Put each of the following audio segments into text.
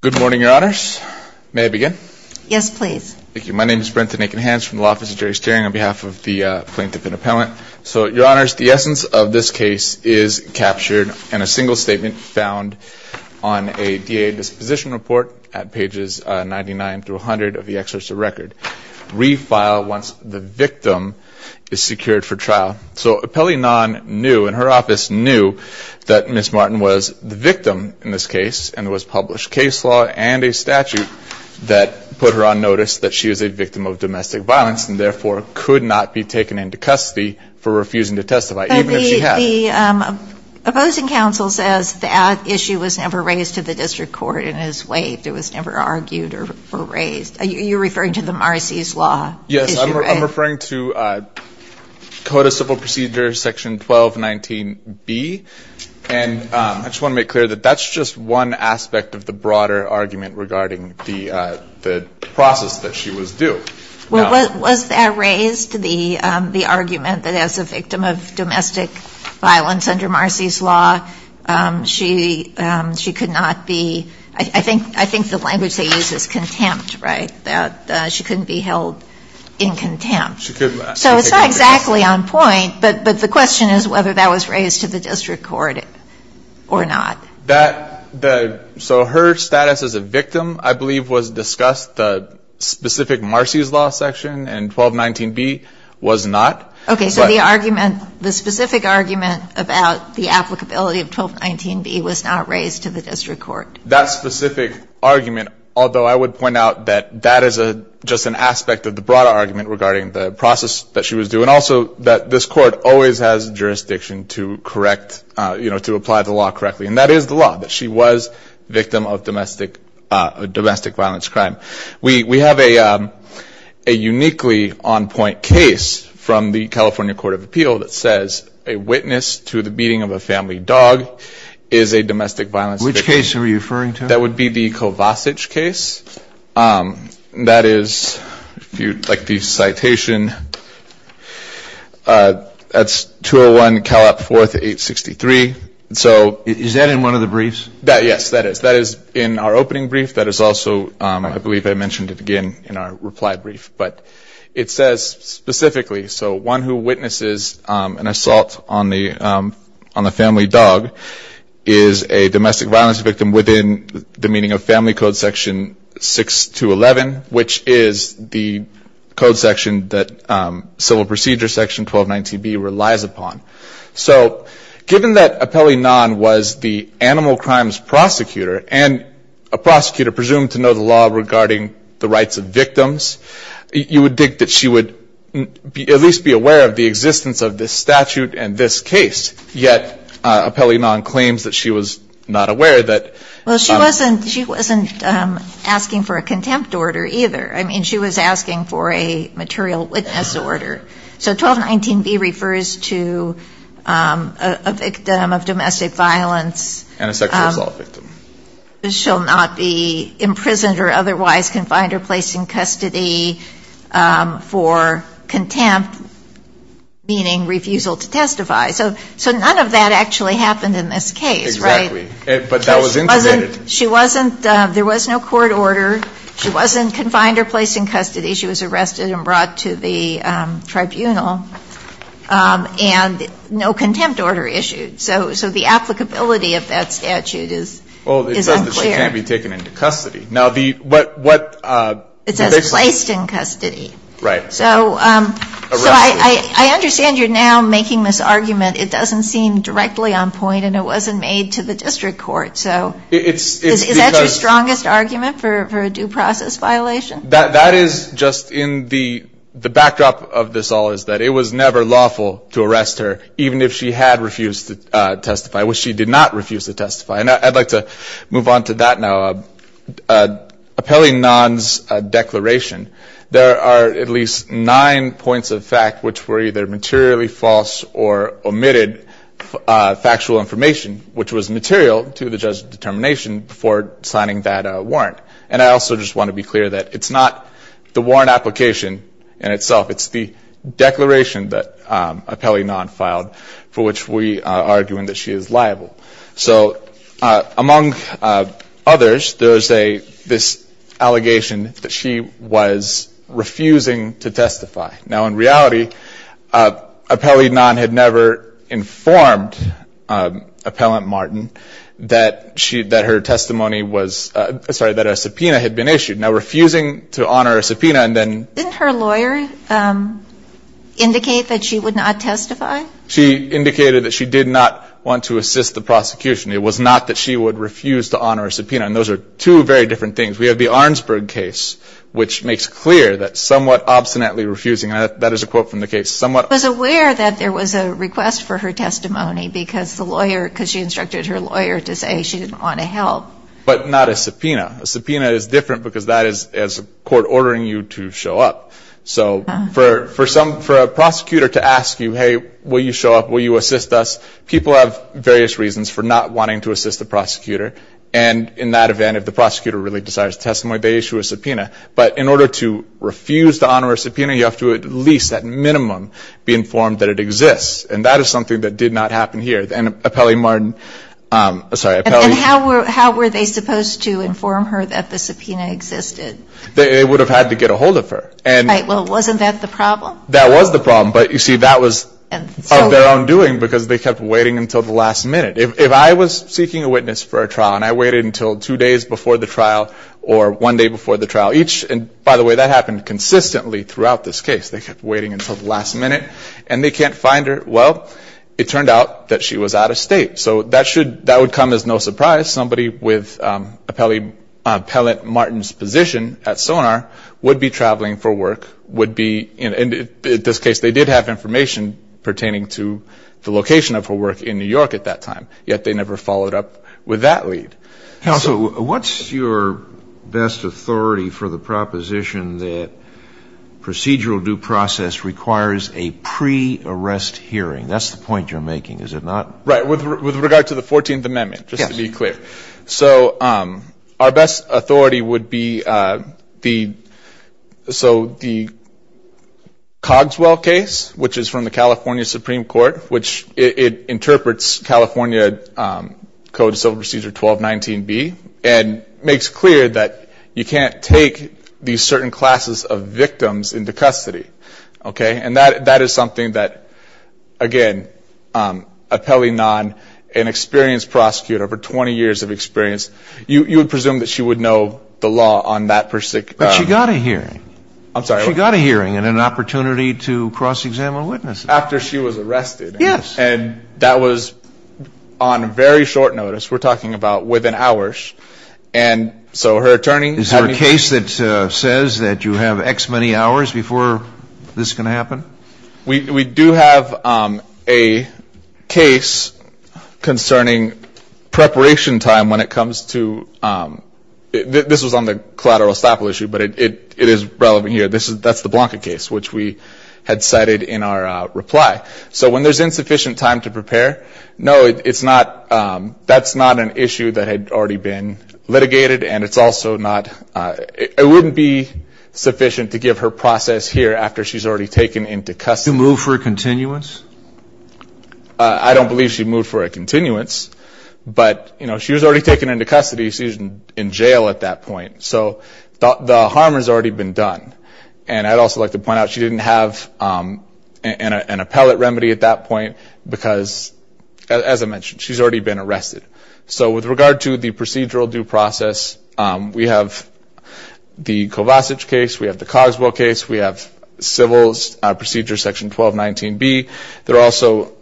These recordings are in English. Good morning, Your Honors. May I begin? Yes, please. Thank you. My name is Brenton Akinhans from the Office of Jury Steering on behalf of the Plaintiff and Appellant. So, Your Honors, the essence of this case is captured in a single statement found on a DA disposition report at pages 99 through 100 of the Exercise of Record. Refile once the victim is secured for trial. So, Appellant Knaan knew, and her office knew, that Ms. Martin was the victim in this case and there was published case law and a statute that put her on notice that she was a victim of domestic violence and therefore could not be taken into custody for refusing to testify, even if she had. But the opposing counsel says that issue was never raised to the district court and has waived. It was never argued or raised. You're referring to the Marcy's Law issue, right? Yes, I'm referring to Code of Civil Procedures, Section 1219B. And I just want to make clear that that's just one aspect of the broader argument regarding the process that she was due. Well, was that raised, the argument that as a victim of domestic violence under Marcy's Law, she could not be, I think the language they use is contempt, right, that she couldn't be held in contempt. So it's not exactly on point, but the question is whether that was raised to the district court or not. So her status as a victim, I believe, was discussed, the specific Marcy's Law section in 1219B was not. Okay, so the argument, the specific argument about the applicability of 1219B was not raised to the district court. That specific argument, although I would point out that that is just an aspect of the broader argument regarding the process that she was due. And also that this court always has jurisdiction to correct, you know, to apply the law correctly. And that is the law, that she was a victim of domestic violence crime. We have a uniquely on-point case from the California Court of Appeal that says a witness to the beating of a family dog is a domestic violence victim. Which case are you referring to? That would be the Kovacic case. That is, if you'd like the citation, that's 201 Calop 4th, 863. Is that in one of the briefs? Yes, that is. In our opening brief, that is also, I believe I mentioned it again in our reply brief, but it says specifically, so one who witnesses an assault on the family dog is a domestic violence victim within the meaning of Family Code section 6211, which is the code section that Civil Procedure section 1219B relies upon. So given that Appellee Nahn was the animal crimes prosecutor and a prosecutor presumed to know the law regarding the rights of victims, you would think that she would at least be aware of the existence of this statute and this case. Yet Appellee Nahn claims that she was not aware that. Well, she wasn't asking for a contempt order either. I mean, she was asking for a material witness order. So 1219B refers to a victim of domestic violence. And a sexual assault victim. She shall not be imprisoned or otherwise confined or placed in custody for contempt, meaning refusal to testify. So none of that actually happened in this case, right? Exactly. But that was intimated. She wasn't, there was no court order. She wasn't confined or placed in custody. She was arrested and brought to the tribunal. And no contempt order issued. So the applicability of that statute is unclear. Well, it says that she can't be taken into custody. It says placed in custody. Right. So I understand you're now making this argument. It doesn't seem directly on point and it wasn't made to the district court. So is that your strongest argument for a due process violation? That is just in the backdrop of this all is that it was never lawful to arrest her, even if she had refused to testify, which she did not refuse to testify. And I'd like to move on to that now. Appellee Nahn's declaration, there are at least nine points of fact which were either materially false or omitted factual information, which was material to the judge's determination before signing that warrant. And I also just want to be clear that it's not the warrant application in itself. It's the declaration that Appellee Nahn filed for which we are arguing that she is liable. So among others, there is this allegation that she was refusing to testify. Now, in reality, Appellee Nahn had never informed Appellant Martin that her testimony was ‑‑ sorry, that a subpoena had been issued. Now, refusing to honor a subpoena and then ‑‑ Didn't her lawyer indicate that she would not testify? She indicated that she did not want to assist the prosecution. It was not that she would refuse to honor a subpoena. And those are two very different things. We have the Arnsberg case, which makes clear that somewhat obstinately refusing, and that is a quote from the case, somewhat ‑‑ Was aware that there was a request for her testimony because the lawyer, because she instructed her lawyer to say she didn't want to help. But not a subpoena. A subpoena is different because that is a court ordering you to show up. So for a prosecutor to ask you, hey, will you show up, will you assist us, people have various reasons for not wanting to assist the prosecutor. And in that event, if the prosecutor really desires testimony, they issue a subpoena. But in order to refuse to honor a subpoena, you have to at least at minimum be informed that it exists. And that is something that did not happen here. And Appellant Martin, sorry, Appellant ‑‑ And how were they supposed to inform her that the subpoena existed? They would have had to get a hold of her. Right. Well, wasn't that the problem? That was the problem. But, you see, that was of their own doing because they kept waiting until the last minute. If I was seeking a witness for a trial and I waited until two days before the trial or one day before the trial each, and, by the way, that happened consistently throughout this case. They kept waiting until the last minute. And they can't find her. Well, it turned out that she was out of state. So that would come as no surprise. Somebody with Appellant Martin's position at Sonar would be traveling for work, and, in this case, they did have information pertaining to the location of her work in New York at that time. Yet they never followed up with that lead. Counsel, what's your best authority for the proposition that procedural due process requires a pre-arrest hearing? That's the point you're making, is it not? Right. With regard to the 14th Amendment, just to be clear. So our best authority would be the Cogswell case, which is from the California Supreme Court, which it interprets California Code of Civil Procedure 1219B and makes clear that you can't take these certain classes of victims into custody. And that is something that, again, Appellant Martin, an experienced prosecutor, over 20 years of experience, you would presume that she would know the law on that particular case. But she got a hearing. I'm sorry? She got a hearing and an opportunity to cross-examine witnesses. After she was arrested. Yes. And that was on very short notice. We're talking about within hours. Is there a case that says that you have X many hours before this can happen? We do have a case concerning preparation time when it comes to ‑‑ this was on the collateral estoppel issue, but it is relevant here. That's the Blanca case, which we had cited in our reply. So when there's insufficient time to prepare, no, it's not ‑‑ that's not an issue that had already been litigated. And it's also not ‑‑ it wouldn't be sufficient to give her process here after she's already taken into custody. To move for a continuance? I don't believe she moved for a continuance. But, you know, she was already taken into custody. She was in jail at that point. So the harm has already been done. And I'd also like to point out she didn't have an appellate remedy at that point because, as I mentioned, she's already been arrested. So with regard to the procedural due process, we have the Kovacic case, we have the Cogswell case, we have civil procedure section 1219B. There are also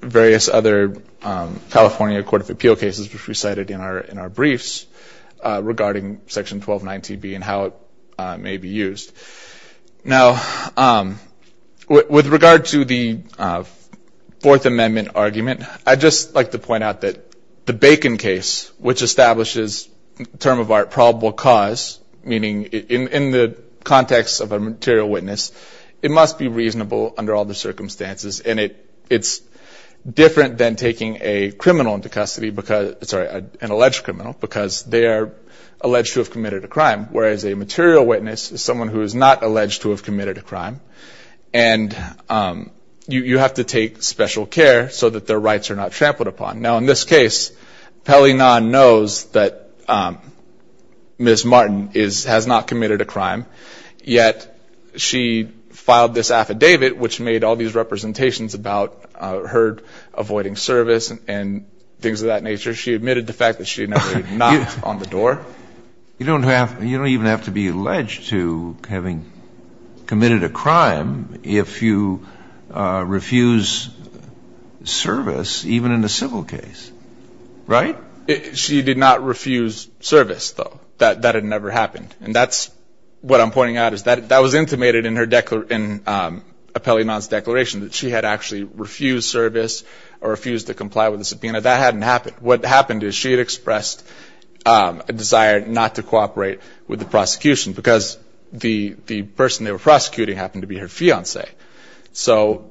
various other California Court of Appeal cases, which we cited in our briefs regarding section 1219B and how it may be used. Now, with regard to the Fourth Amendment argument, I'd just like to point out that the Bacon case, which establishes the term of art probable cause, meaning in the context of a material witness, it must be reasonable under all the circumstances. And it's different than taking a criminal into custody, sorry, an alleged criminal, because they are alleged to have committed a crime. Whereas a material witness is someone who is not alleged to have committed a crime. And you have to take special care so that their rights are not trampled upon. Now, in this case, Pellinan knows that Ms. Martin has not committed a crime, yet she filed this affidavit, which made all these representations about her avoiding service and things of that nature. She admitted the fact that she had never knocked on the door. You don't even have to be alleged to having committed a crime if you refuse service, even in a civil case. Right? She did not refuse service, though. That had never happened. And that's what I'm pointing out, is that was intimated in her declaration, in Pellinan's declaration, that she had actually refused service or refused to comply with the subpoena. That hadn't happened. What happened is she had expressed a desire not to cooperate with the prosecution, because the person they were prosecuting happened to be her fiancé. So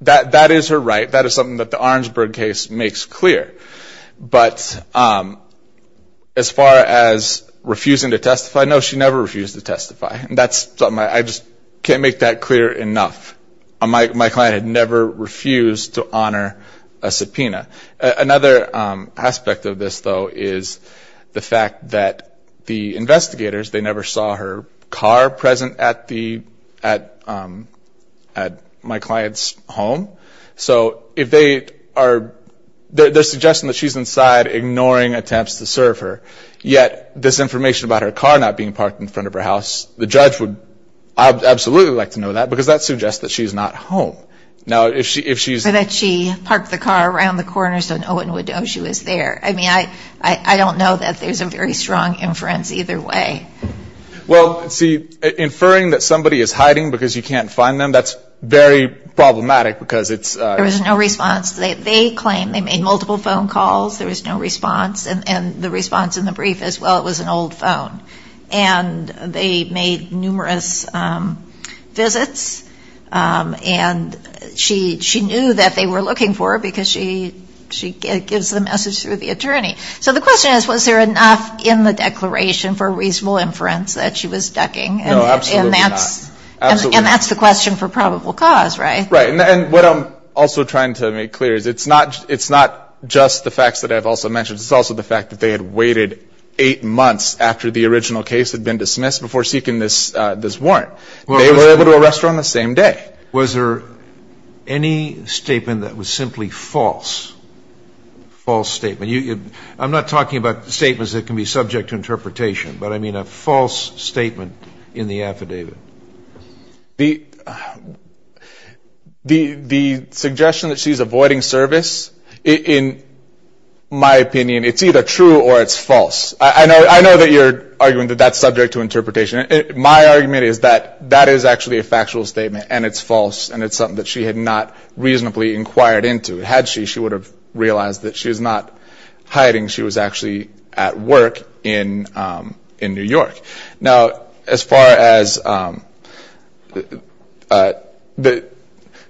that is her right. That is something that the Orangeburg case makes clear. But as far as refusing to testify, no, she never refused to testify. And that's something I just can't make that clear enough. My client had never refused to honor a subpoena. Another aspect of this, though, is the fact that the investigators, they never saw her car present at my client's home. So if they are suggesting that she's inside, ignoring attempts to serve her, yet this information about her car not being parked in front of her house, the judge would absolutely like to know that, because that suggests that she's not home. Or that she parked the car around the corner so no one would know she was there. I mean, I don't know that there's a very strong inference either way. Well, see, inferring that somebody is hiding because you can't find them, that's very problematic because it's ‑‑ There was no response. They claim they made multiple phone calls. There was no response. And the response in the brief is, well, it was an old phone. And they made numerous visits. And she knew that they were looking for her because she gives the message through the attorney. So the question is, was there enough in the declaration for reasonable inference that she was ducking? No, absolutely not. And that's the question for probable cause, right? Right. And what I'm also trying to make clear is it's not just the facts that I've also mentioned. It's also the fact that they had waited eight months after the original case had been dismissed before seeking this warrant. They were able to arrest her on the same day. Was there any statement that was simply false, false statement? I'm not talking about statements that can be subject to interpretation, but I mean a false statement in the affidavit. The suggestion that she's avoiding service, in my opinion, it's either true or it's false. I know that you're arguing that that's subject to interpretation. My argument is that that is actually a factual statement and it's false and it's something that she had not reasonably inquired into. Had she, she would have realized that she was not hiding. She was actually at work in New York. Now, as far as,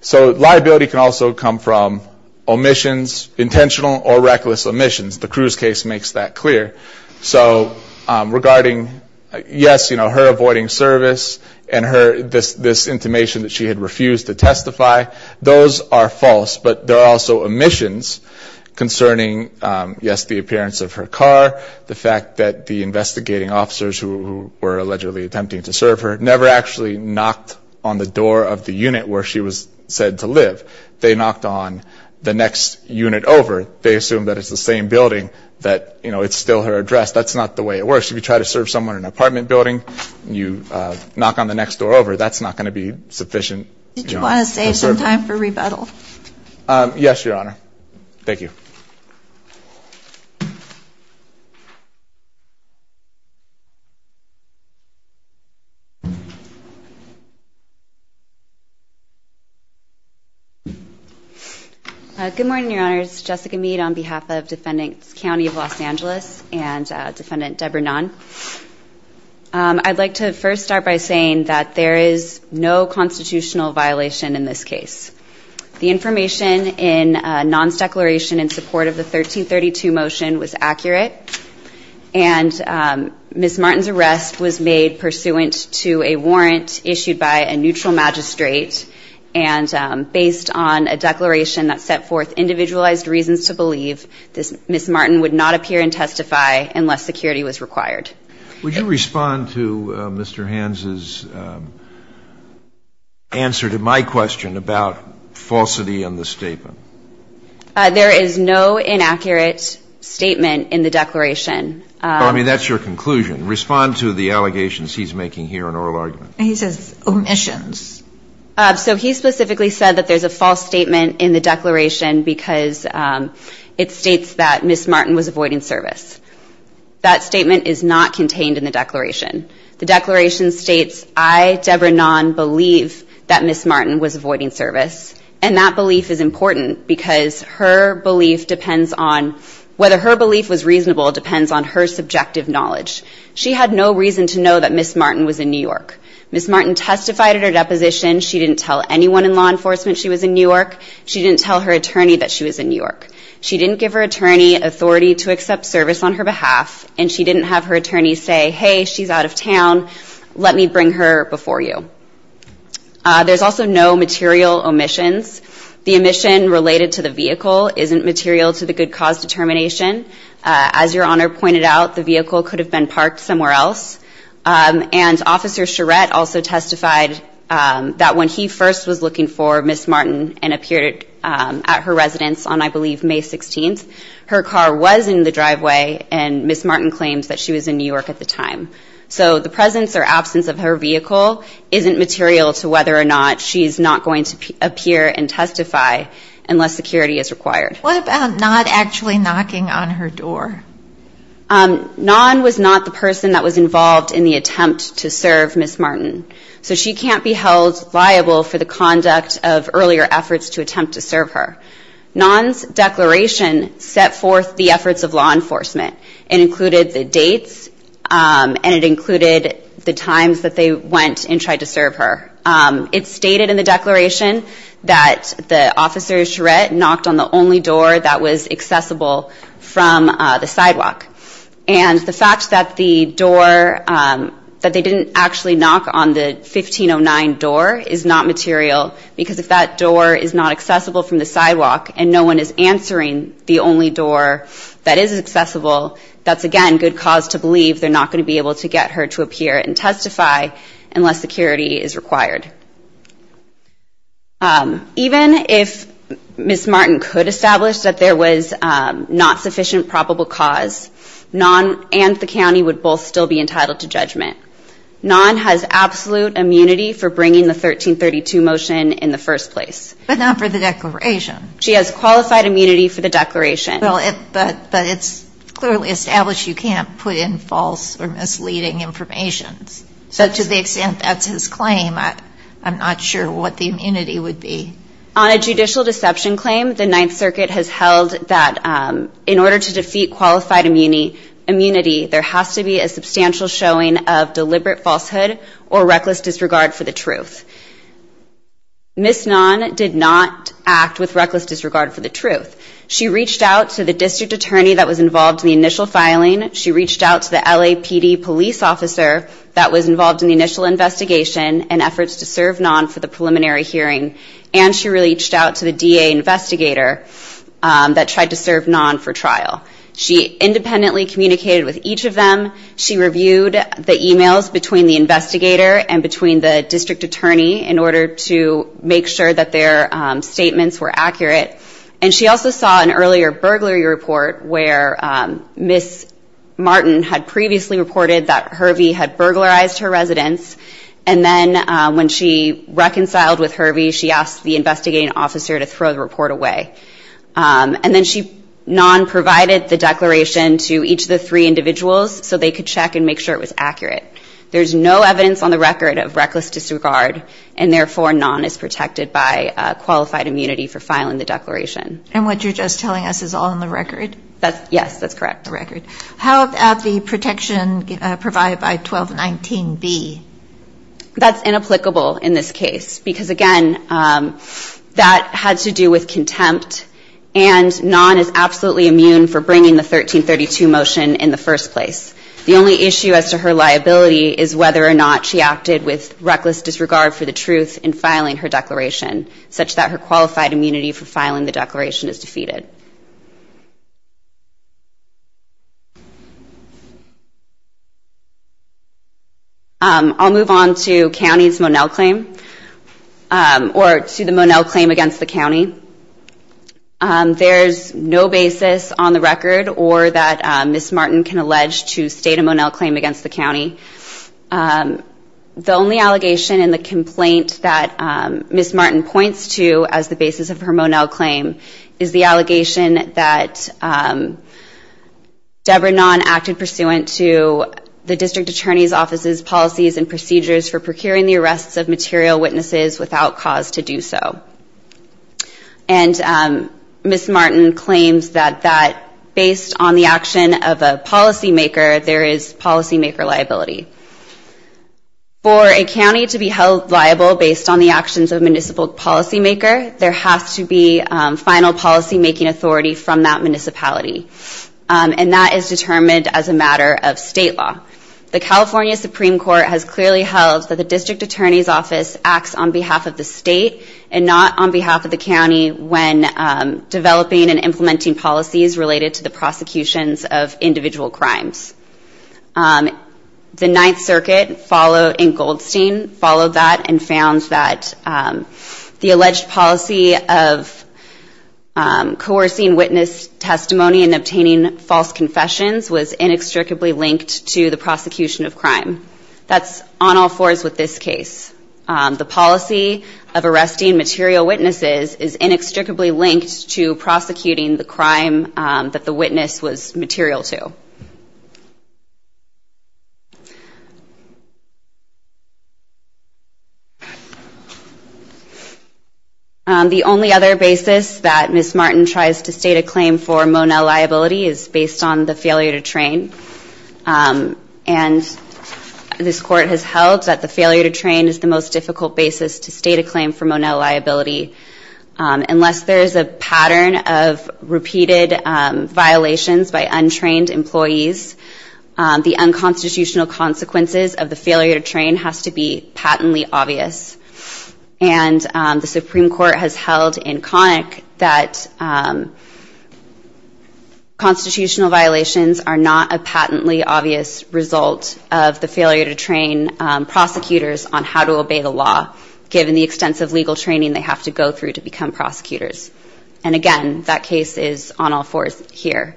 so liability can also come from omissions, intentional or reckless omissions. The Cruz case makes that clear. So regarding, yes, you know, her avoiding service and this intimation that she had refused to testify, those are false. But there are also omissions concerning, yes, the appearance of her car, the fact that the investigating officers who were allegedly attempting to serve her never actually knocked on the door of the unit where she was said to live. They knocked on the next unit over. They assumed that it's the same building, that, you know, it's still her address. That's not the way it works. If you try to serve someone in an apartment building and you knock on the next door over, that's not going to be sufficient. Did you want to save some time for rebuttal? Yes, Your Honor. Thank you. Thank you. Good morning, Your Honors. Jessica Mead on behalf of Defendants County of Los Angeles and Defendant Deborah Nahn. I'd like to first start by saying that there is no constitutional violation in this case. The information in Nahn's declaration in support of the 1332 motion was accurate, and Ms. Martin's arrest was made pursuant to a warrant issued by a neutral magistrate. And based on a declaration that set forth individualized reasons to believe, Ms. Martin would not appear and testify unless security was required. Would you respond to Mr. Hans's answer to my question about falsity in the statement? There is no inaccurate statement in the declaration. Well, I mean, that's your conclusion. Respond to the allegations he's making here in oral argument. He says omissions. So he specifically said that there's a false statement in the declaration because it states that Ms. Martin was avoiding service. That statement is not contained in the declaration. The declaration states, I, Deborah Nahn, believe that Ms. Martin was avoiding service, and that belief is important because her belief depends on whether her belief was reasonable depends on her subjective knowledge. She had no reason to know that Ms. Martin was in New York. Ms. Martin testified at her deposition. She didn't tell anyone in law enforcement she was in New York. She didn't tell her attorney that she was in New York. She didn't give her attorney authority to accept service on her behalf, and she didn't have her attorney say, hey, she's out of town. Let me bring her before you. There's also no material omissions. The omission related to the vehicle isn't material to the good cause determination. As Your Honor pointed out, the vehicle could have been parked somewhere else, and Officer Charette also testified that when he first was looking for Ms. Martin and appeared at her residence on, I believe, May 16th, her car was in the driveway, and Ms. Martin claims that she was in New York at the time. So the presence or absence of her vehicle isn't material to whether or not she's not going to appear and testify unless security is required. What about Nahn actually knocking on her door? Nahn was not the person that was involved in the attempt to serve Ms. Martin. So she can't be held liable for the conduct of earlier efforts to attempt to serve her. Nahn's declaration set forth the efforts of law enforcement. It included the dates, and it included the times that they went and tried to serve her. It's stated in the declaration that the Officer Charette knocked on the only door that was accessible from the sidewalk. And the fact that the door, that they didn't actually knock on the 1509 door is not material because if that door is not accessible from the sidewalk and no one is answering the only door that is accessible, that's again good cause to believe they're not going to be able to get her to appear and testify unless security is required. Even if Ms. Martin could establish that there was not sufficient probable cause, Nahn and the county would both still be entitled to judgment. Nahn has absolute immunity for bringing the 1332 motion in the first place. But not for the declaration. She has qualified immunity for the declaration. But it's clearly established you can't put in false or misleading information. So to the extent that's his claim, I'm not sure what the immunity would be. On a judicial deception claim, the Ninth Circuit has held that in order to defeat qualified immunity, there has to be a substantial showing of deliberate falsehood or reckless disregard for the truth. Ms. Nahn did not act with reckless disregard for the truth. She reached out to the district attorney that was involved in the initial filing. She reached out to the LAPD police officer that was involved in the initial investigation and efforts to serve Nahn for the preliminary hearing. And she reached out to the DA investigator that tried to serve Nahn for trial. She independently communicated with each of them. She reviewed the e-mails between the investigator and between the district attorney in order to make sure that their statements were accurate. And she also saw an earlier burglary report where Ms. Martin had previously reported that Hervey had burglarized her residence. And then when she reconciled with Hervey, she asked the investigating officer to throw the report away. And then Nahn provided the declaration to each of the three individuals so they could check and make sure it was accurate. There's no evidence on the record of reckless disregard. And therefore, Nahn is protected by qualified immunity for filing the declaration. And what you're just telling us is all on the record? Yes, that's correct. The record. How about the protection provided by 1219B? That's inapplicable in this case because, again, that had to do with contempt. And Nahn is absolutely immune for bringing the 1332 motion in the first place. The only issue as to her liability is whether or not she acted with reckless disregard for the truth in filing her declaration, such that her qualified immunity for filing the declaration is defeated. I'll move on to county's Monell claim or to the Monell claim against the county. There's no basis on the record or that Ms. Martin can allege to state a Monell claim against the county. The only allegation in the complaint that Ms. Martin points to as the basis of her Monell claim is the allegation that Deborah Nahn acted pursuant to the district attorney's office's policies and procedures for procuring the arrests of material witnesses without cause to do so. And Ms. Martin claims that based on the action of a policymaker, there is policymaker liability. For a county to be held liable based on the actions of a municipal policymaker, there has to be final policymaking authority from that municipality. And that is determined as a matter of state law. The California Supreme Court has clearly held that the district attorney's office acts on behalf of the state and not on behalf of the county when developing and implementing policies related to the prosecutions of individual crimes. The Ninth Circuit in Goldstein followed that and found that the alleged policy of coercing witness testimony and obtaining false confessions was inextricably linked to the prosecution of crime. That's on all fours with this case. The policy of arresting material witnesses is inextricably linked to prosecuting the crime that the witness was material to. The only other basis that Ms. Martin tries to state a claim for Monell liability is based on the failure to train. And this court has held that the failure to train is the most difficult basis to state a claim for Monell liability unless there is a pattern of repeated violations by untrained employees, the unconstitutional consequences of the failure to train has to be patently obvious. And the Supreme Court has held in Connick that constitutional violations are not a patently obvious result of the failure to train prosecutors on how to obey the law, given the extensive legal training they have to go through to become prosecutors. And again, that case is on all fours here.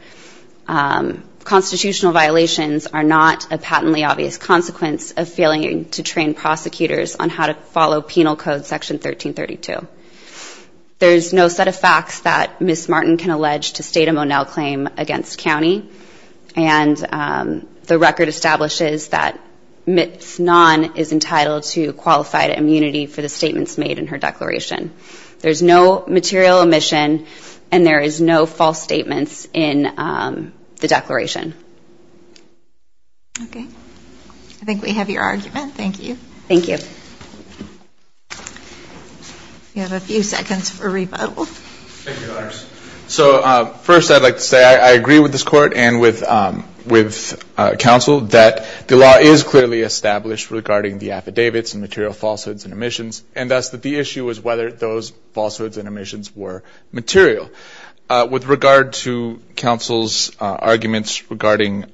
Constitutional violations are not a patently obvious consequence of failing to train prosecutors on how to follow Penal Code Section 1332. There's no set of facts that Ms. Martin can allege to state a Monell claim against county, and the record establishes that Ms. Nahn is entitled to qualified immunity for the statements made in her declaration. There's no material omission, and there is no false statements in the declaration. Okay. I think we have your argument. Thank you. Thank you. We have a few seconds for rebuttal. Thank you, Your Honors. So first, I'd like to say I agree with this Court and with counsel that the law is clearly established regarding the affidavits and material falsehoods and omissions, and thus that the issue is whether those falsehoods and omissions were material. With regard to counsel's arguments regarding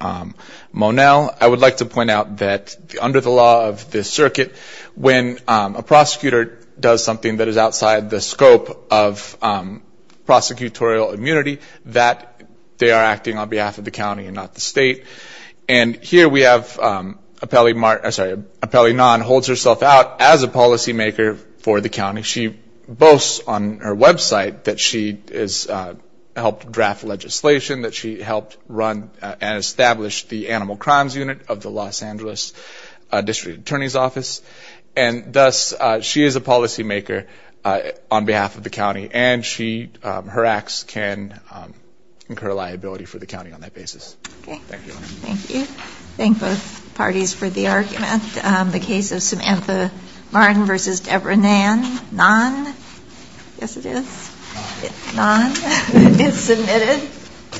Monell, I would like to point out that under the law of this circuit, when a prosecutor does something that is outside the scope of prosecution, there is a statutory immunity that they are acting on behalf of the county and not the state. And here we have Apelli Nahn holds herself out as a policymaker for the county. She boasts on her website that she has helped draft legislation, that she helped run and establish the Animal Crimes Unit of the Los Angeles District Attorney's Office, and thus she is a policymaker on behalf of the county, and her acts can incur liability for the county on that basis. Thank you. Thank you. Thank both parties for the argument.